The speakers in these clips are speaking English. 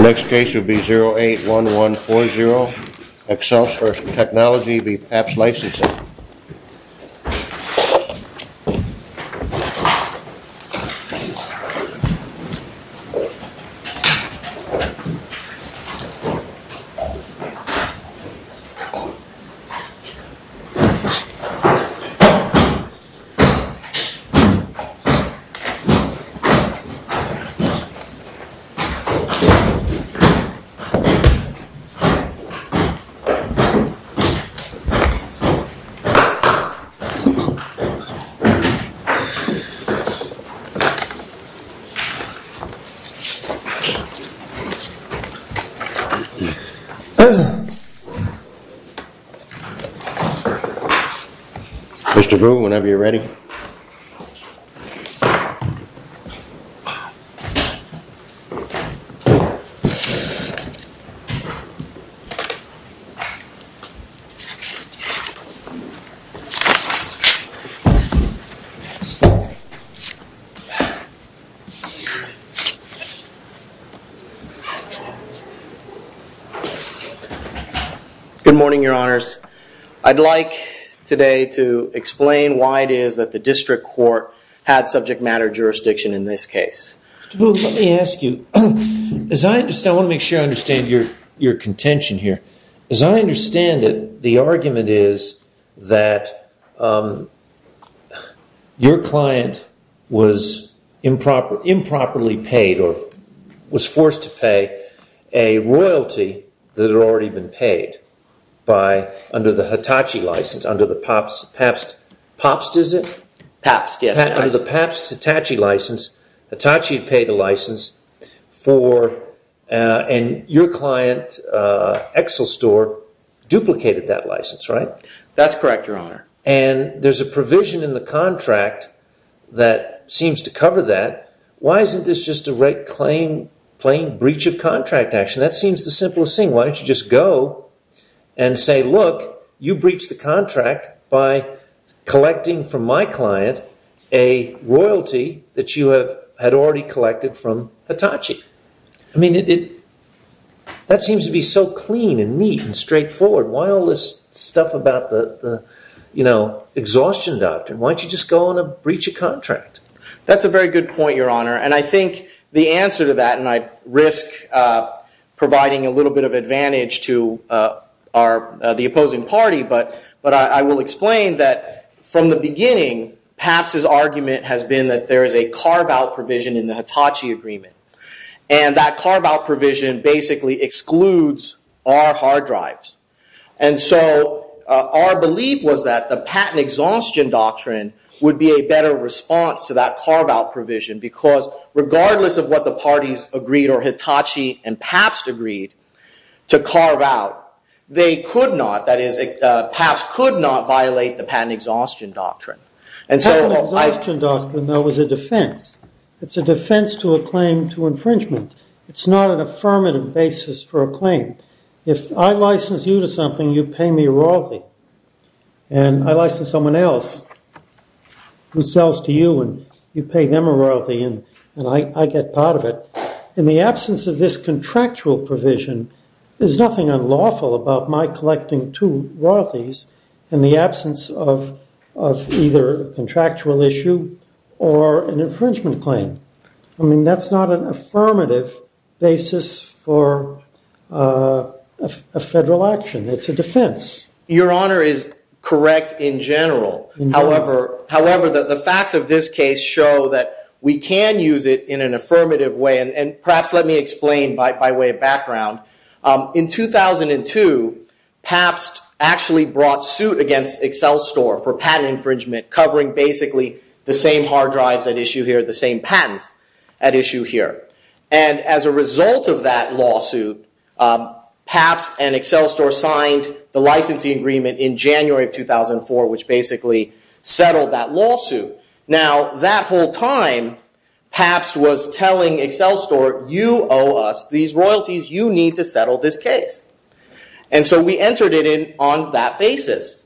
Next case will be 081140, Excelsior Technology v. Papst Licensing. 081140, Excelsior Technology v. Papst Licensing. 081140, Excelsior Technology v. Papst Licensing. Good morning, your honors. I'd like today to explain why it is that the district court had subject matter jurisdiction in this case. Let me ask you, I want to make sure I understand your contention here. As I understand it, the argument is that your client was improperly paid or was forced to pay a royalty that had already been paid under the Hitachi license, under the Papst Hitachi license. Hitachi paid the license and your client, Excelsior, duplicated that license, right? That's correct, your honor. And there's a provision in the contract that seems to cover that. Why isn't this just a plain breach of contract action? That seems the simplest thing. Why don't you just go and say, look, you breached the contract by collecting from my client a royalty that you had already collected from Hitachi. I mean, that seems to be so clean and neat and straightforward. Why all this stuff about the, you know, exhaustion doctrine? Why don't you just go and breach a contract? That's a very good point, your honor. And I think the answer to that, and I risk providing a little bit of advantage to the opposing party, but I will explain that from the beginning, Papst's argument has been that there is a carve out provision in the Hitachi agreement. And that carve out provision basically excludes our hard drives. And so our belief was that the patent exhaustion doctrine would be a better response to that carve out provision, because regardless of what the parties agreed or Hitachi and Papst agreed to carve out, they could not, that is, Papst could not violate the patent exhaustion doctrine. Patent exhaustion doctrine, though, is a defense. It's a defense to a claim to infringement. It's not an affirmative basis for a claim. If I license you to something, you pay me royalty. And I license someone else who sells to you, and you pay them a royalty, and I get part of it. In the absence of this contractual provision, there's nothing unlawful about my collecting two royalties in the absence of either a contractual issue or an infringement claim. I mean, that's not an affirmative basis for a federal action. It's a defense. Your Honor is correct in general. However, the facts of this case show that we can use it in an affirmative way. And perhaps let me explain by way of background. In 2002, Papst actually brought suit against Excel Store for patent infringement, covering basically the same hard drives at issue here, the same patents at issue here. And as a result of that lawsuit, Papst and Excel Store signed the licensing agreement in January of 2004, which basically settled that lawsuit. Now, that whole time, Papst was telling Excel Store, you owe us these royalties. You need to settle this case. And so we entered it in on that basis.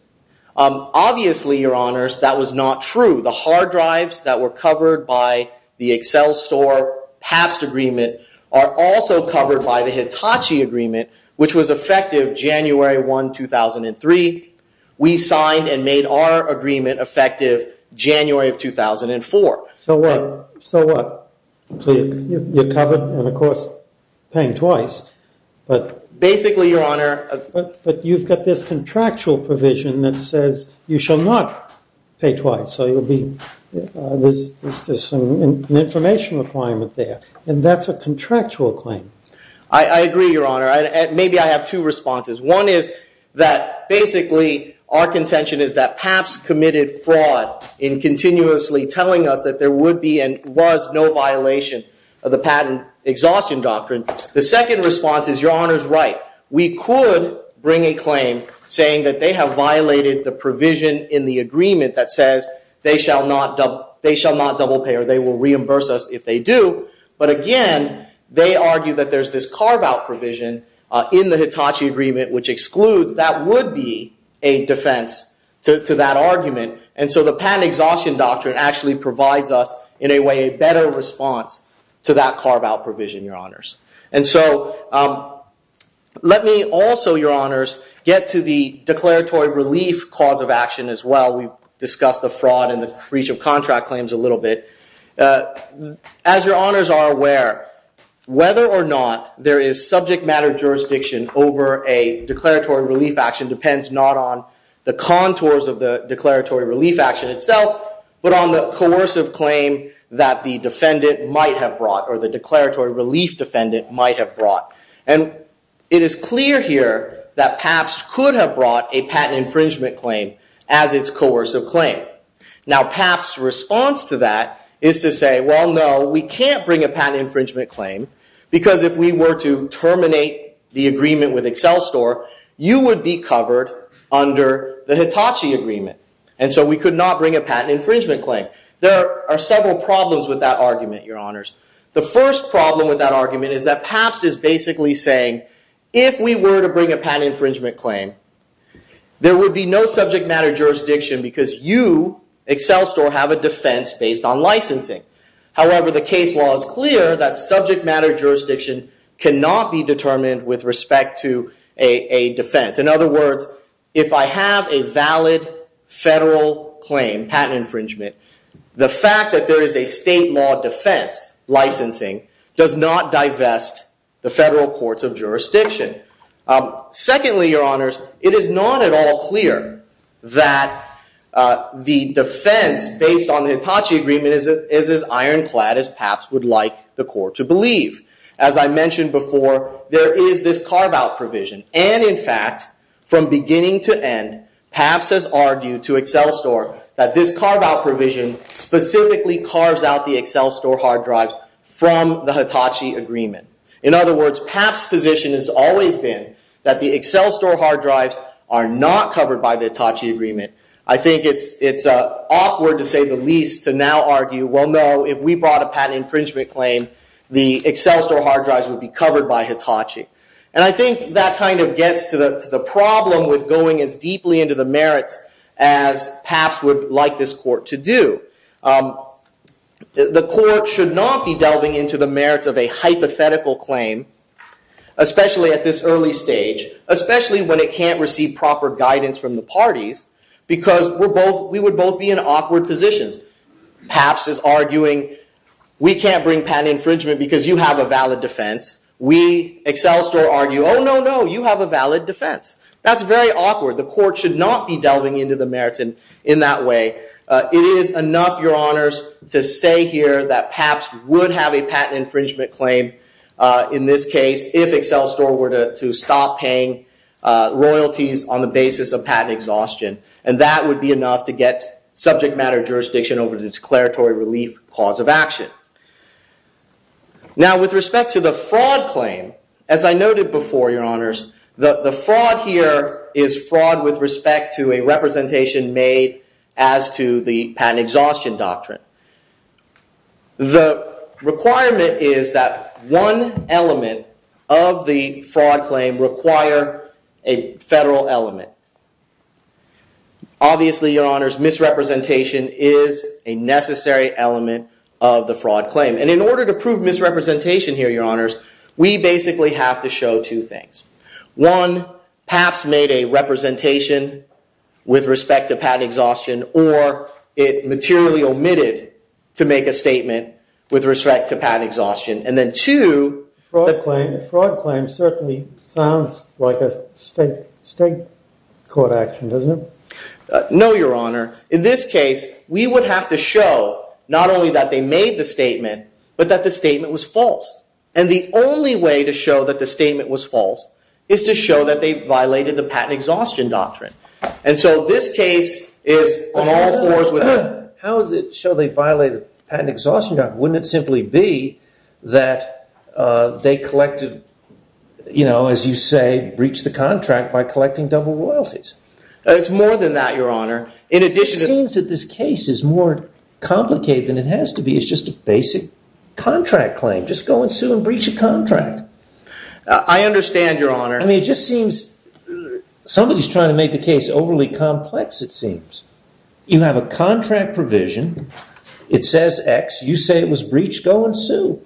Obviously, Your Honors, that was not true. The hard drives that were covered by the Excel Store-Papst agreement are also covered by the Hitachi agreement, which was effective January 1, 2003. We signed and made our agreement effective January of 2004. So what? So what? You're covered, and of course, paying twice. Basically, Your Honor. But you've got this contractual provision that says you shall not pay twice. So there's an information requirement there. And that's a contractual claim. I agree, Your Honor. Maybe I have two responses. One is that basically our contention is that Papst committed fraud in continuously telling us that there would be and was no violation of the patent exhaustion doctrine. The second response is, Your Honor's right. We could bring a claim saying that they have violated the provision in the agreement that says they shall not double pay, or they will reimburse us if they do. But again, they argue that there's this carve-out provision in the Hitachi agreement which excludes. That would be a defense to that argument. And so the patent exhaustion doctrine actually provides us in a way a better response to that carve-out provision, Your Honors. And so let me also, Your Honors, get to the declaratory relief cause of action as well. We've discussed the fraud and the breach of contract claims a little bit. As Your Honors are aware, whether or not there is subject matter jurisdiction over a declaratory relief action depends not on the contours of the declaratory relief action itself, but on the coercive claim that the defendant might have brought, or the declaratory relief defendant might have brought. And it is clear here that Papst could have brought a patent infringement claim as its coercive claim. Now, Papst's response to that is to say, well, no, we can't bring a patent infringement claim because if we were to terminate the agreement with Excel Store, you would be covered under the Hitachi agreement. And so we could not bring a patent infringement claim. There are several problems with that argument, Your Honors. The first problem with that argument is that Papst is basically saying, if we were to bring a patent infringement claim, there would be no subject matter jurisdiction because you, Excel Store, have a defense based on licensing. However, the case law is clear that subject matter jurisdiction cannot be determined with respect to a defense. In other words, if I have a valid federal claim, patent infringement, the fact that there is a state law defense licensing does not divest the federal courts of jurisdiction. Secondly, Your Honors, it is not at all clear that the defense based on the Hitachi agreement is as ironclad as Papst would like the court to believe. As I mentioned before, there is this carve-out provision. And in fact, from beginning to end, Papst has argued to Excel Store that this carve-out provision specifically carves out the Excel Store hard drives from the Hitachi agreement. In other words, Papst's position has always been that the Excel Store hard drives are not covered by the Hitachi agreement. I think it's awkward to say the least to now argue, well no, if we brought a patent infringement claim, the Excel Store hard drives would be covered by Hitachi. And I think that kind of gets to the problem with going as deeply into the merits as Papst would like this court to do. The court should not be delving into the merits of a hypothetical claim, especially at this early stage, especially when it can't receive proper guidance from the parties, because we would both be in awkward positions. Papst is arguing, we can't bring patent infringement because you have a valid defense. We, Excel Store, argue, oh no, no, you have a valid defense. That's very awkward. The court should not be delving into the merits in that way. It is enough, Your Honors, to say here that Papst would have a patent infringement claim in this case if Excel Store were to stop paying royalties on the basis of patent exhaustion. And that would be enough to get subject matter jurisdiction over the declaratory relief cause of action. Now, with respect to the fraud claim, as I noted before, Your Honors, the fraud here is fraud with respect to a representation made as to the patent exhaustion doctrine. The requirement is that one element of the fraud claim require a federal element. Obviously, Your Honors, misrepresentation is a necessary element of the fraud claim. And in order to prove misrepresentation here, Your Honors, we basically have to show two things. One, Papst made a representation with respect to patent exhaustion, or it materially omitted to make a statement with respect to patent exhaustion. And then two, the fraud claim certainly sounds like a state court action, doesn't it? No, Your Honor. In this case, we would have to show not only that they made the statement, but that the statement was false. And the only way to show that the statement was false is to show that they violated the patent exhaustion doctrine. And so this case is on all fours with that. How does it show they violated the patent exhaustion doctrine? Wouldn't it simply be that they collected, you know, as you say, breached the contract by collecting double royalties? It's more than that, Your Honor. It seems that this case is more complicated than it has to be. It's just a basic contract claim. Just go and sue and breach a contract. I understand, Your Honor. I mean, it just seems somebody's trying to make the case overly complex, it seems. You have a contract provision. It says X. You say it was breached. Go and sue.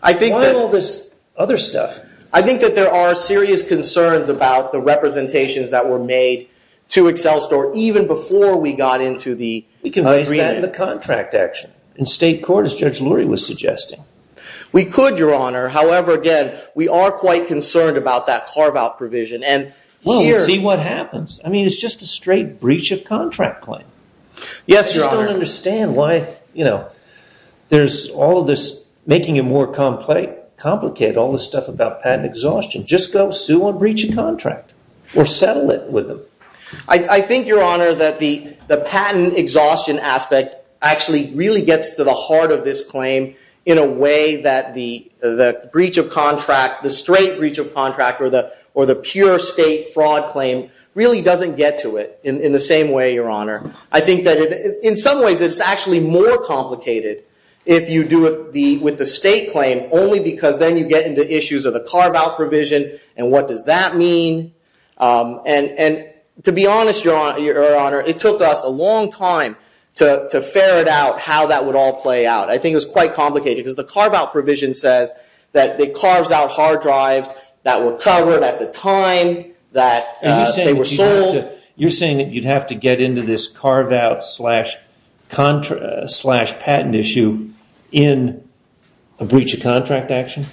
Why all this other stuff? I think that there are serious concerns about the representations that were made to Excel Store even before we got into the agreement. We can raise that in the contract, actually, in state court, as Judge Lurie was suggesting. We could, Your Honor. However, again, we are quite concerned about that carve-out provision. Well, we'll see what happens. I mean, it's just a straight breach of contract claim. Yes, Your Honor. I just don't understand why there's all of this making it more complicated, all this stuff about patent exhaustion. Just go sue and breach a contract or settle it with them. I think, Your Honor, that the patent exhaustion aspect actually really gets to the heart of this claim in a way that the breach of contract, the straight breach of contract, or the pure state fraud claim really doesn't get to it in the same way, Your Honor. I think that in some ways it's actually more complicated if you do it with the state claim only because then you get into issues of the carve-out provision and what does that mean. And to be honest, Your Honor, it took us a long time to ferret out how that would all play out. I think it was quite complicated because the carve-out provision says that it carves out hard drives that were covered at the time that they were sold. You're saying that you'd have to get into this carve-out slash patent issue in a breach of contract action?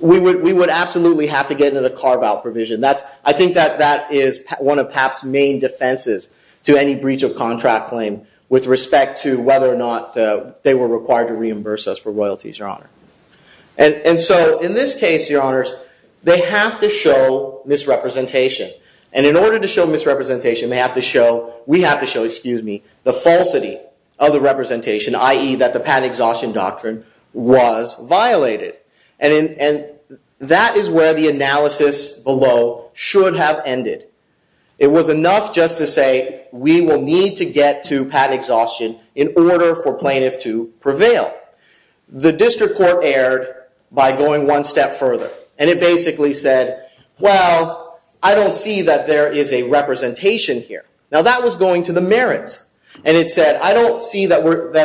We would absolutely have to get into the carve-out provision. I think that that is one of PAP's main defenses to any breach of contract claim with respect to whether or not they were required to reimburse us for royalties, Your Honor. And so in this case, Your Honors, they have to show misrepresentation. And in order to show misrepresentation, we have to show the falsity of the representation, i.e. that the patent exhaustion doctrine was violated. And that is where the analysis below should have ended. It was enough just to say we will need to get to patent exhaustion in order for plaintiff to prevail. The district court erred by going one step further. And it basically said, well, I don't see that there is a representation here. Now that was going to the merits. And it said, I don't see that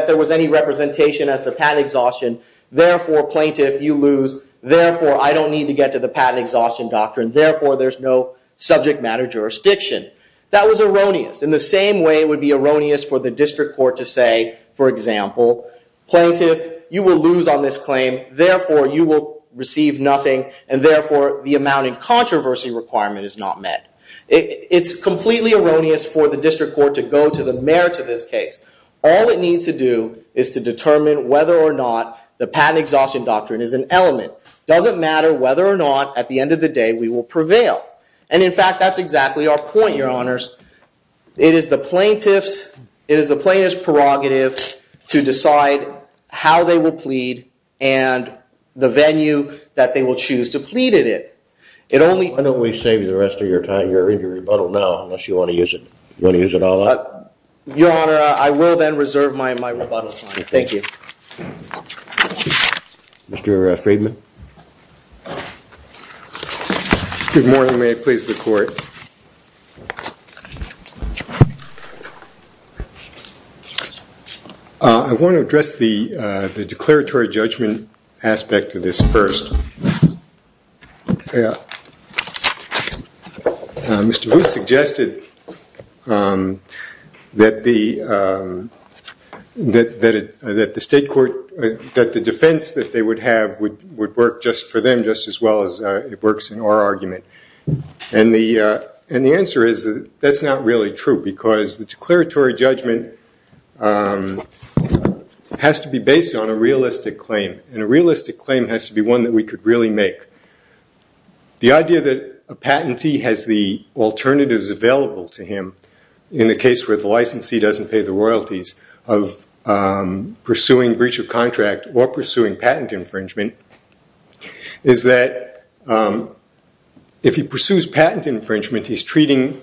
there was any representation as to patent exhaustion. Therefore, plaintiff, you lose. Therefore, I don't need to get to the patent exhaustion doctrine. Therefore, there's no subject matter jurisdiction. That was erroneous. In the same way it would be erroneous for the district court to say, for example, plaintiff, you will lose on this claim. Therefore, you will receive nothing. And therefore, the amount in controversy requirement is not met. It's completely erroneous for the district court to go to the merits of this case. All it needs to do is to determine whether or not the patent exhaustion doctrine is an element. It doesn't matter whether or not, at the end of the day, we will prevail. And in fact, that's exactly our point, Your Honors. It is the plaintiff's prerogative to decide how they will plead and the venue that they will choose to plead in it. Why don't we save the rest of your time? You're in your rebuttal now, unless you want to use it all up. Your Honor, I will then reserve my rebuttal time. Thank you. Mr. Friedman? Thank you. Good morning. May I please the Court? I want to address the declaratory judgment aspect of this first. Mr. Vu suggested that the defense that they would have would work just for them just as well as it works in our argument. And the answer is that that's not really true because the declaratory judgment has to be based on a realistic claim. And a realistic claim has to be one that we could really make. The idea that a patentee has the alternatives available to him in the case where the licensee doesn't pay the royalties of pursuing breach of contract or pursuing patent infringement is that if he pursues patent infringement, he's treating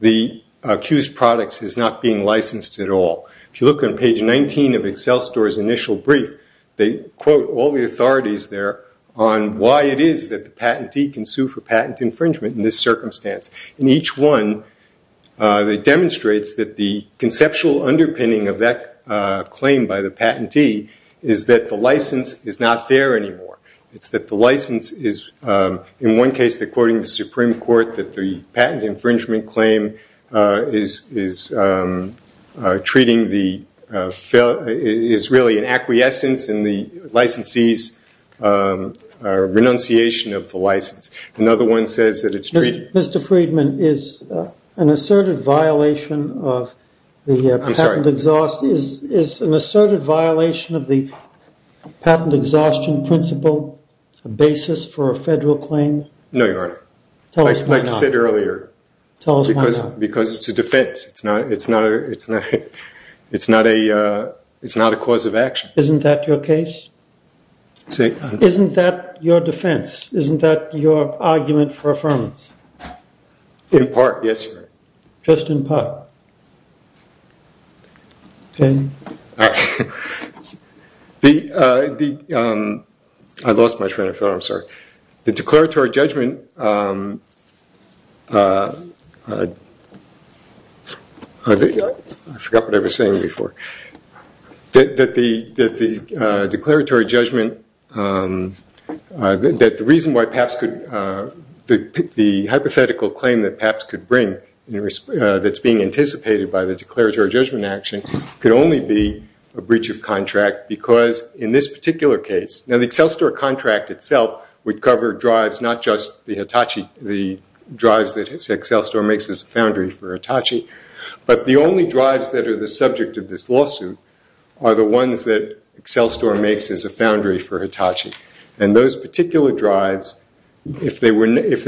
the accused products as not being licensed at all. If you look on page 19 of Excel Store's initial brief, they quote all the authorities there on why it is that the patentee can sue for patent infringement in this circumstance. In each one, it demonstrates that the conceptual underpinning of that claim by the patentee is that the license is not there anymore. It's that the license is, in one case, according to the Supreme Court, that the patent infringement claim is really an acquiescence in the licensee's renunciation of the license. Mr. Friedman, is an asserted violation of the patent exhaustion principle a basis for a federal claim? No, Your Honor. Tell us why not. Like you said earlier. Tell us why not. Because it's a defense. It's not a cause of action. Isn't that your case? Isn't that your defense? Isn't that your argument for affirmance? In part, yes, Your Honor. Just in part? I lost my train of thought, I'm sorry. The declaratory judgment... I forgot what I was saying before. That the declaratory judgment... That the reason why PAPS could... The hypothetical claim that PAPS could bring that's being anticipated by the declaratory judgment action could only be a breach of contract because, in this particular case... Now, the Excel Store contract itself would cover drives, not just the drives that Excel Store makes as a foundry for Hitachi. But the only drives that are the subject of this lawsuit are the ones that Excel Store makes as a foundry for Hitachi. And those particular drives, if they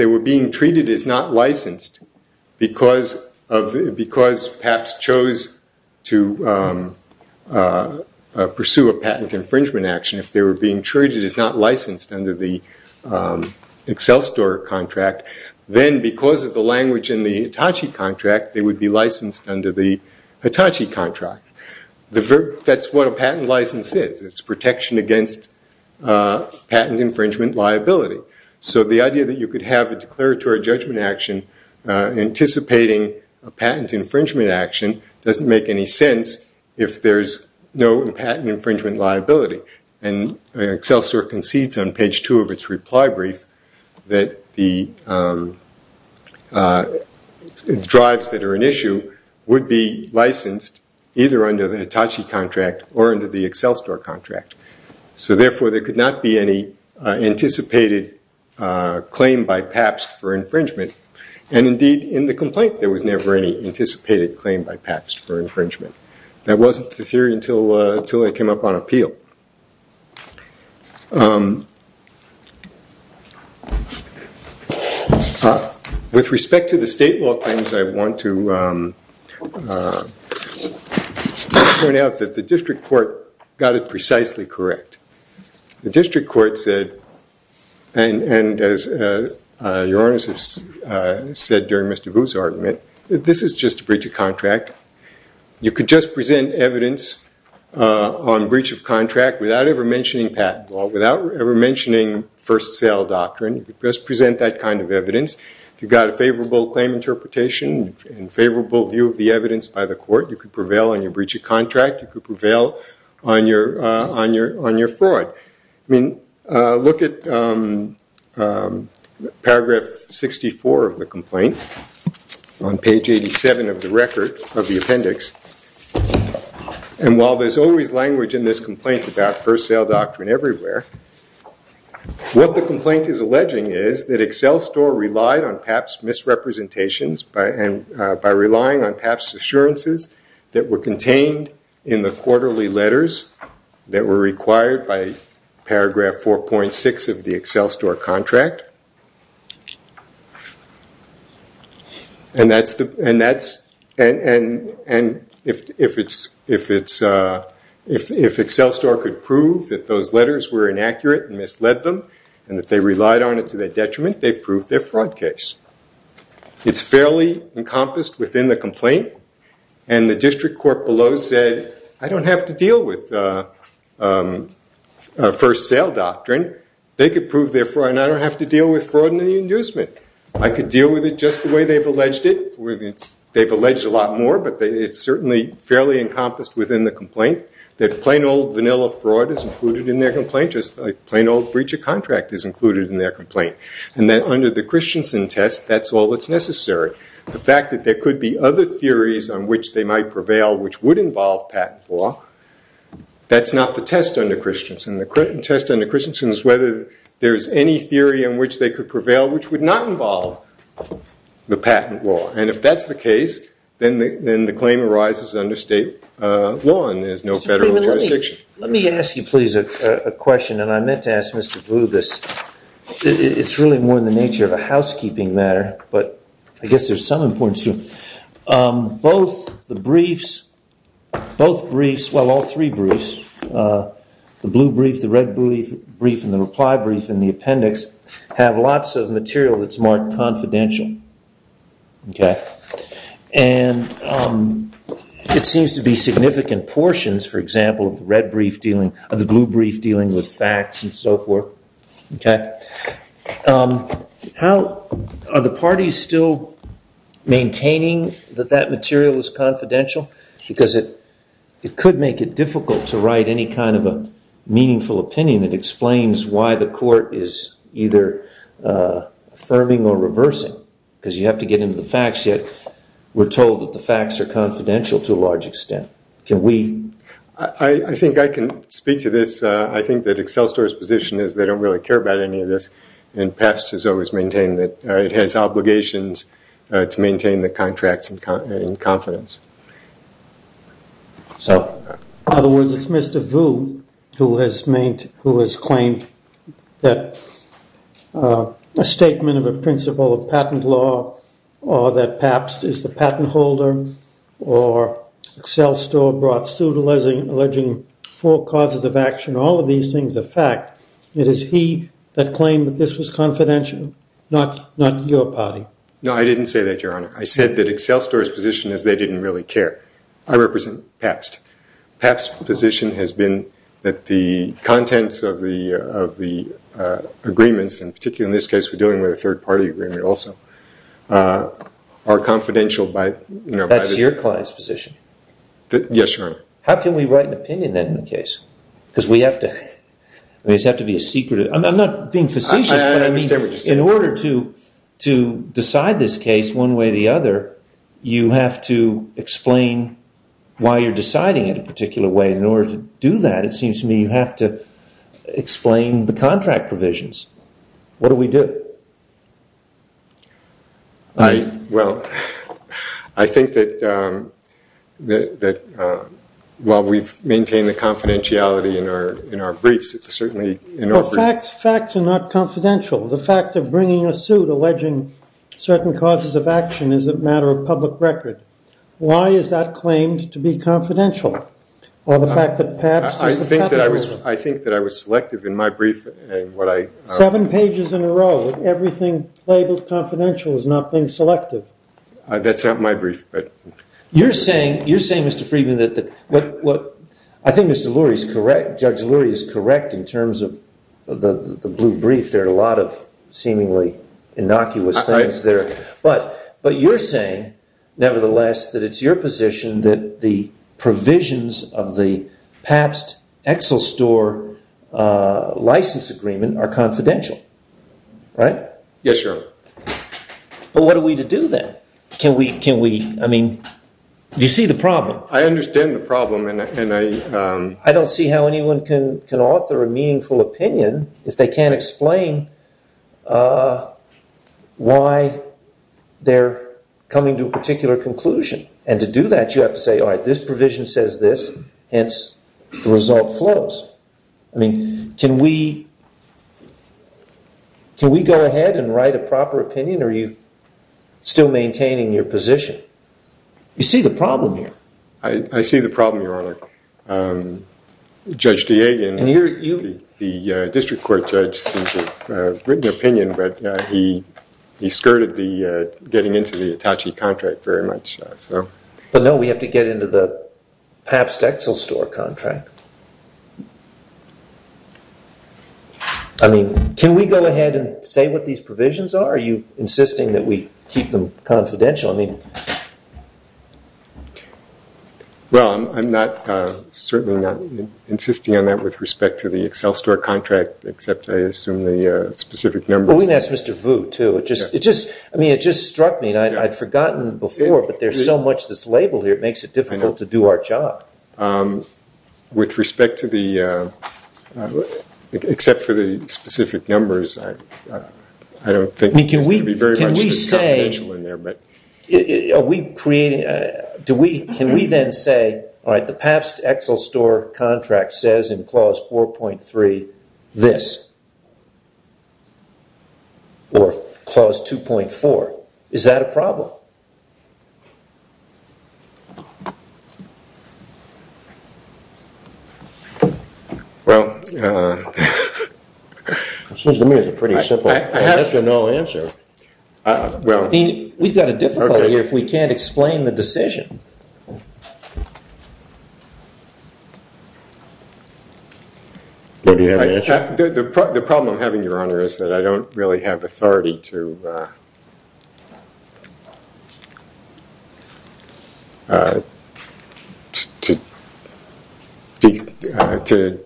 were being treated as not licensed because PAPS chose to pursue a patent infringement action, if they were being treated as not licensed under the Excel Store contract, then because of the language in the Hitachi contract, they would be licensed under the Hitachi contract. That's what a patent license is. It's protection against patent infringement liability. So the idea that you could have a declaratory judgment action anticipating a patent infringement action doesn't make any sense if there's no patent infringement liability. And Excel Store concedes on page 2 of its reply brief that the drives that are an issue would be licensed either under the Hitachi contract or under the Excel Store contract. So therefore, there could not be any anticipated claim by PAPS for infringement. And indeed, in the complaint, there was never any anticipated claim by PAPS for infringement. That wasn't the theory until they came up on appeal. With respect to the state law claims, I want to point out that the district court got it precisely correct. The district court said, and as your honors have said during Mr. Vu's argument, this is just a breach of contract. You could just present evidence on breach of contract without ever mentioning patent law, without ever mentioning first sale doctrine. You could just present that kind of evidence. If you've got a favorable claim interpretation and favorable view of the evidence by the court, you could prevail on your breach of contract. You could prevail on your fraud. Look at paragraph 64 of the complaint on page 87 of the appendix. And while there's always language in this complaint about first sale doctrine everywhere, what the complaint is alleging is that Excel Store relied on PAPS misrepresentations by relying on PAPS assurances that were contained in the quarterly letters that were required by paragraph 4.6 of the Excel Store contract. And if Excel Store could prove that those letters were inaccurate and misled them, and that they relied on it to their detriment, they've proved their fraud case. It's fairly encompassed within the complaint. And the district court below said, I don't have to deal with first sale doctrine. They could prove their fraud, and I don't have to deal with fraud and the inducement. I could deal with it just the way they've alleged it. They've alleged a lot more, but it's certainly fairly encompassed within the complaint. That plain old vanilla fraud is included in their complaint, just a plain old breach of contract is included in their complaint. And then under the Christensen test, that's all that's necessary. The fact that there could be other theories on which they might prevail which would involve patent law, that's not the test under Christensen. The test under Christensen is whether there's any theory on which they could prevail which would not involve the patent law. And if that's the case, then the claim arises under state law, and there's no federal jurisdiction. Let me ask you please a question, and I meant to ask Mr. Vu this. It's really more in the nature of a housekeeping matter, but I guess there's some importance to it. Both the briefs, well all three briefs, the blue brief, the red brief, and the reply brief, and the appendix have lots of material that's marked confidential. And it seems to be significant portions, for example, of the red brief dealing, of the blue brief dealing with facts and so forth. Are the parties still maintaining that that material is confidential? Because it could make it difficult to write any kind of a meaningful opinion that explains why the court is either affirming or reversing. Because you have to get into the facts, yet we're told that the facts are confidential to a large extent. I think I can speak to this. I think that Accel Store's position is they don't really care about any of this, and PAPS has always maintained that it has obligations to maintain the contracts in confidence. So in other words, it's Mr. Vu who has claimed that a statement of a principle of patent law, or that PAPS is the patent holder, or Accel Store brought suit alleging four causes of action. All of these things are fact. It is he that claimed that this was confidential, not your party. No, I didn't say that, Your Honor. I said that Accel Store's position is they didn't really care. I represent PAPS. PAPS' position has been that the contents of the agreements, and particularly in this case we're dealing with a third-party agreement also, are confidential. That's your client's position? Yes, Your Honor. How can we write an opinion then in the case? Because we have to be secretive. I'm not being facetious. I understand what you're saying. In order to decide this case one way or the other, you have to explain why you're deciding it a particular way. In order to do that, it seems to me you have to explain the contract provisions. What do we do? Well, I think that while we've maintained the confidentiality in our briefs, it's certainly in our briefs. But facts are not confidential. The fact of bringing a suit alleging certain causes of action is a matter of public record. Why is that claimed to be confidential? I think that I was selective in my brief. Seven pages in a row, everything labeled confidential is not being selective. That's not my brief. You're saying, Mr. Friedman, that... I think Judge Lurie is correct in terms of the blue brief. There are a lot of seemingly innocuous things there. But you're saying, nevertheless, that it's your position that the provisions of the Pabst-Exelstor license agreement are confidential. Right? Yes, Your Honor. But what are we to do then? I mean, do you see the problem? I understand the problem. I don't see how anyone can author a meaningful opinion if they can't explain why they're coming to a particular conclusion. And to do that, you have to say, all right, this provision says this, hence the result flows. I mean, can we go ahead and write a proper opinion? Are you still maintaining your position? You see the problem here. I see the problem, Your Honor. Judge DeAgan, the district court judge, seems to have written an opinion, but he skirted getting into the Hitachi contract very much. But no, we have to get into the Pabst-Exelstor contract. I mean, can we go ahead and say what these provisions are? Are you insisting that we keep them confidential? Well, I'm certainly not insisting on that with respect to the Exelstor contract, except, I assume, the specific numbers. Well, we can ask Mr. Vu, too. I mean, it just struck me, and I'd forgotten before, but there's so much that's labeled here, it makes it difficult to do our job. With respect to the, except for the specific numbers, I don't think it's going to be very much confidential in there. Can we say, are we creating, can we then say, all right, the Pabst-Exelstor contract says in Clause 4.3 this, or Clause 2.4. Is that a problem? Well. It seems to me it's a pretty simple yes or no answer. I mean, we've got a difficulty here if we can't explain the decision. Well, do you have an answer? The problem I'm having, Your Honor, is that I don't really have authority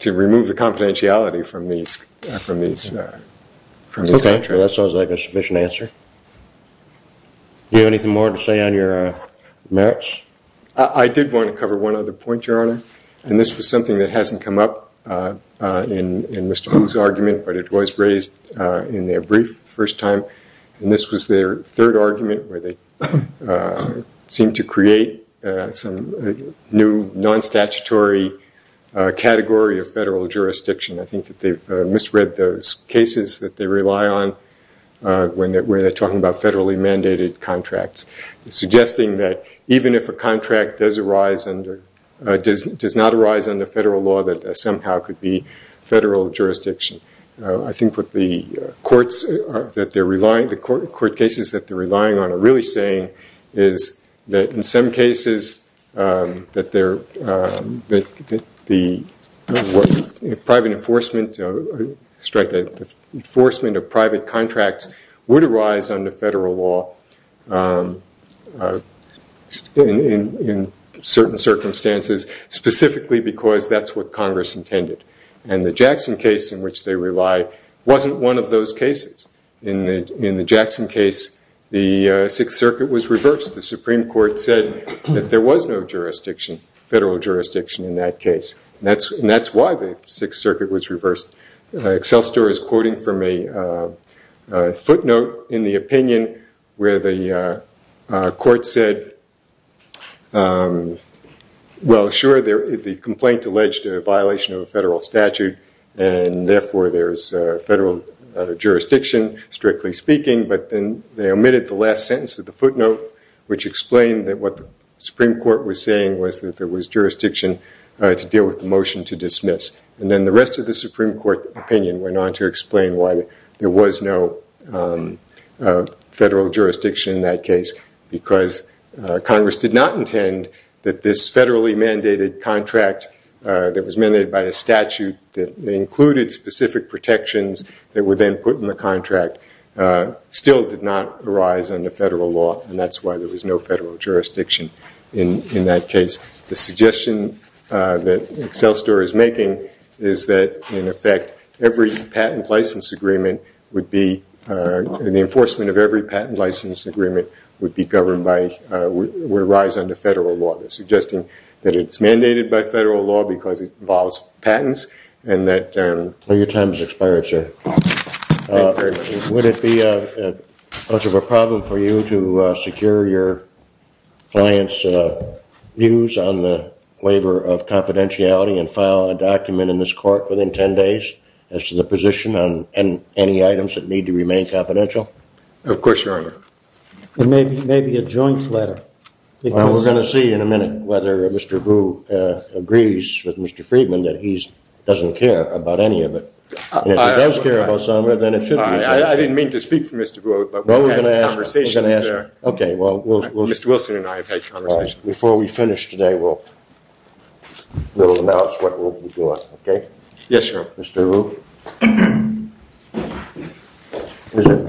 to remove the confidentiality from these contracts. Okay. That sounds like a sufficient answer. Do you have anything more to say on your merits? I did want to cover one other point, Your Honor. And this was something that hasn't come up in Mr. Vu's argument, but it was raised in their brief the first time. And this was their third argument where they seemed to create some new non-statutory category of federal jurisdiction. I think that they've misread those cases that they rely on when they're talking about federally mandated contracts, suggesting that even if a contract does not arise under federal law, that there somehow could be federal jurisdiction. I think what the court cases that they're relying on are really saying is that in some cases, that the enforcement of private contracts would arise under federal law in certain circumstances, specifically because that's what Congress intended. And the Jackson case in which they relied wasn't one of those cases. In the Jackson case, the Sixth Circuit was reversed. The Supreme Court said that there was no federal jurisdiction in that case. And that's why the Sixth Circuit was reversed. Excel Store is quoting from a footnote in the opinion where the court said, well, sure, the complaint alleged a violation of a federal statute, and therefore there's federal jurisdiction, strictly speaking. But then they omitted the last sentence of the footnote, which explained that what the Supreme Court was saying was that there was jurisdiction to deal with the motion to dismiss. And then the rest of the Supreme Court opinion went on to explain why there was no federal jurisdiction in that case, because Congress did not intend that this federally mandated contract that was mandated by the statute that included specific protections that were then put in the contract still did not arise under federal law, and that's why there was no federal jurisdiction in that case. The suggestion that Excel Store is making is that, in effect, every patent license agreement would be the enforcement of every patent license agreement would arise under federal law. They're suggesting that it's mandated by federal law because it involves patents. Your time has expired, sir. Thank you very much. Would it be much of a problem for you to secure your client's views on the waiver of confidentiality and file a document in this court within 10 days as to the position on any items that need to remain confidential? Of course, Your Honor. Maybe a joint letter. Well, we're going to see in a minute whether Mr. Vu agrees with Mr. Friedman that he doesn't care about any of it. If he does care about some of it, then it should be okay. I didn't mean to speak for Mr. Vu, but we've had conversations there. Okay. Mr. Wilson and I have had conversations. Before we finish today, we'll announce what we'll be doing, okay? Yes, Your Honor. Mr. Vu,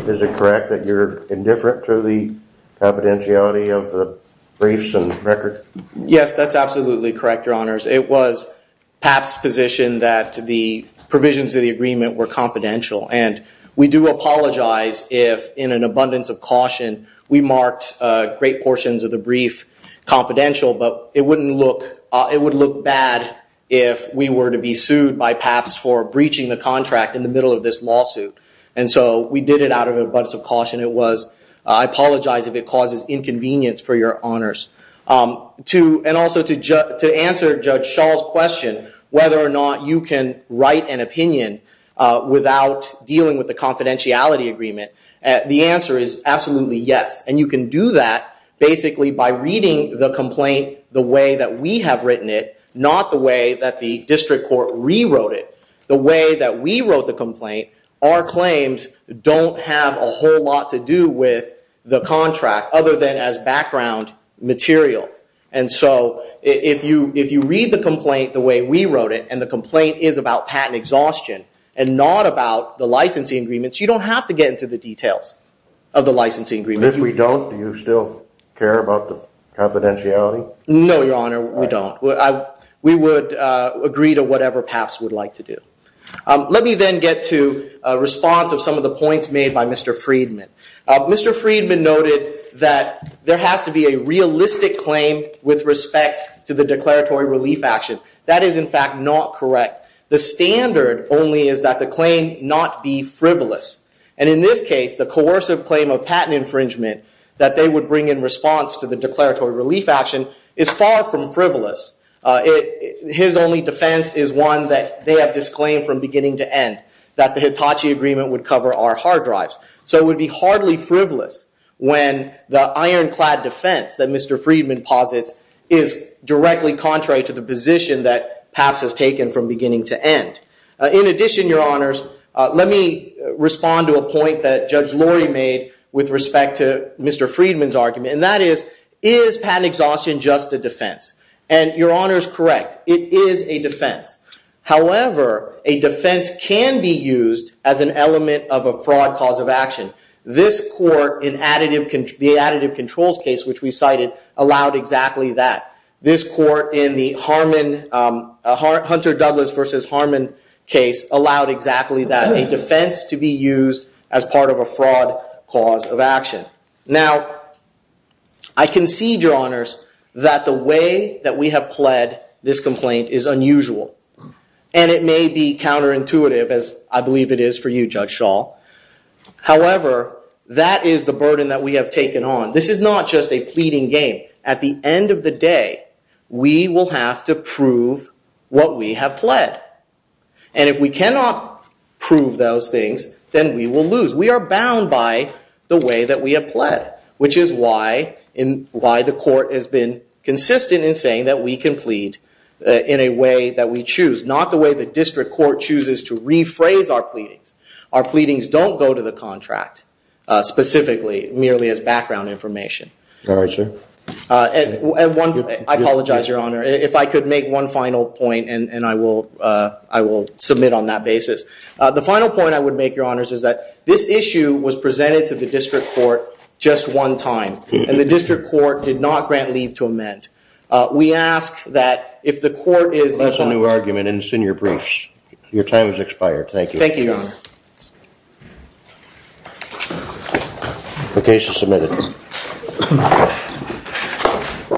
is it correct that you're indifferent to the confidentiality of the briefs and record? Yes, that's absolutely correct, Your Honors. It was PAP's position that the provisions of the agreement were confidential, and we do apologize if in an abundance of caution we marked great portions of the brief confidential, but it would look bad if we were to be sued by PAP for breaching the contract in the middle of this lawsuit. And so we did it out of an abundance of caution. I apologize if it causes inconvenience for Your Honors. And also to answer Judge Schall's question, whether or not you can write an opinion without dealing with the confidentiality agreement, the answer is absolutely yes, and you can do that basically by reading the complaint the way that we have written it, not the way that the district court rewrote it. The way that we wrote the complaint, our claims don't have a whole lot to do with the contract other than as background material. And so if you read the complaint the way we wrote it, and the complaint is about patent exhaustion and not about the licensing agreements, you don't have to get into the details of the licensing agreement. And if we don't, do you still care about the confidentiality? No, Your Honor, we don't. We would agree to whatever PAP's would like to do. Let me then get to a response of some of the points made by Mr. Friedman. Mr. Friedman noted that there has to be a realistic claim with respect to the declaratory relief action. That is, in fact, not correct. The standard only is that the claim not be frivolous. And in this case, the coercive claim of patent infringement that they would bring in response to the declaratory relief action is far from frivolous. His only defense is one that they have disclaimed from beginning to end, that the Hitachi Agreement would cover our hard drives. So it would be hardly frivolous when the ironclad defense that Mr. Friedman posits is directly contrary to the position that PAP's has taken from beginning to end. In addition, Your Honors, let me respond to a point that Judge Lori made with respect to Mr. Friedman's argument, and that is, is patent exhaustion just a defense? And Your Honors, correct, it is a defense. However, a defense can be used as an element of a fraud cause of action. This court in the additive controls case, which we cited, allowed exactly that. This court in the Hunter Douglas v. Harmon case allowed exactly that, a defense to be used as part of a fraud cause of action. Now, I concede, Your Honors, that the way that we have pled this complaint is unusual, and it may be counterintuitive, as I believe it is for you, Judge Schall. However, that is the burden that we have taken on. This is not just a pleading game. At the end of the day, we will have to prove what we have pled. And if we cannot prove those things, then we will lose. We are bound by the way that we have pled, which is why the court has been consistent in saying that we can plead in a way that we choose, not the way the district court chooses to rephrase our pleadings. Our pleadings don't go to the contract, specifically, merely as background information. All right, sir. I apologize, Your Honor, if I could make one final point, and I will submit on that basis. The final point I would make, Your Honors, is that this issue was presented to the district court just one time, and the district court did not grant leave to amend. We ask that if the court is— That's a new argument, and it's in your briefs. Your time has expired. Thank you. Thank you, Your Honor. The case is submitted.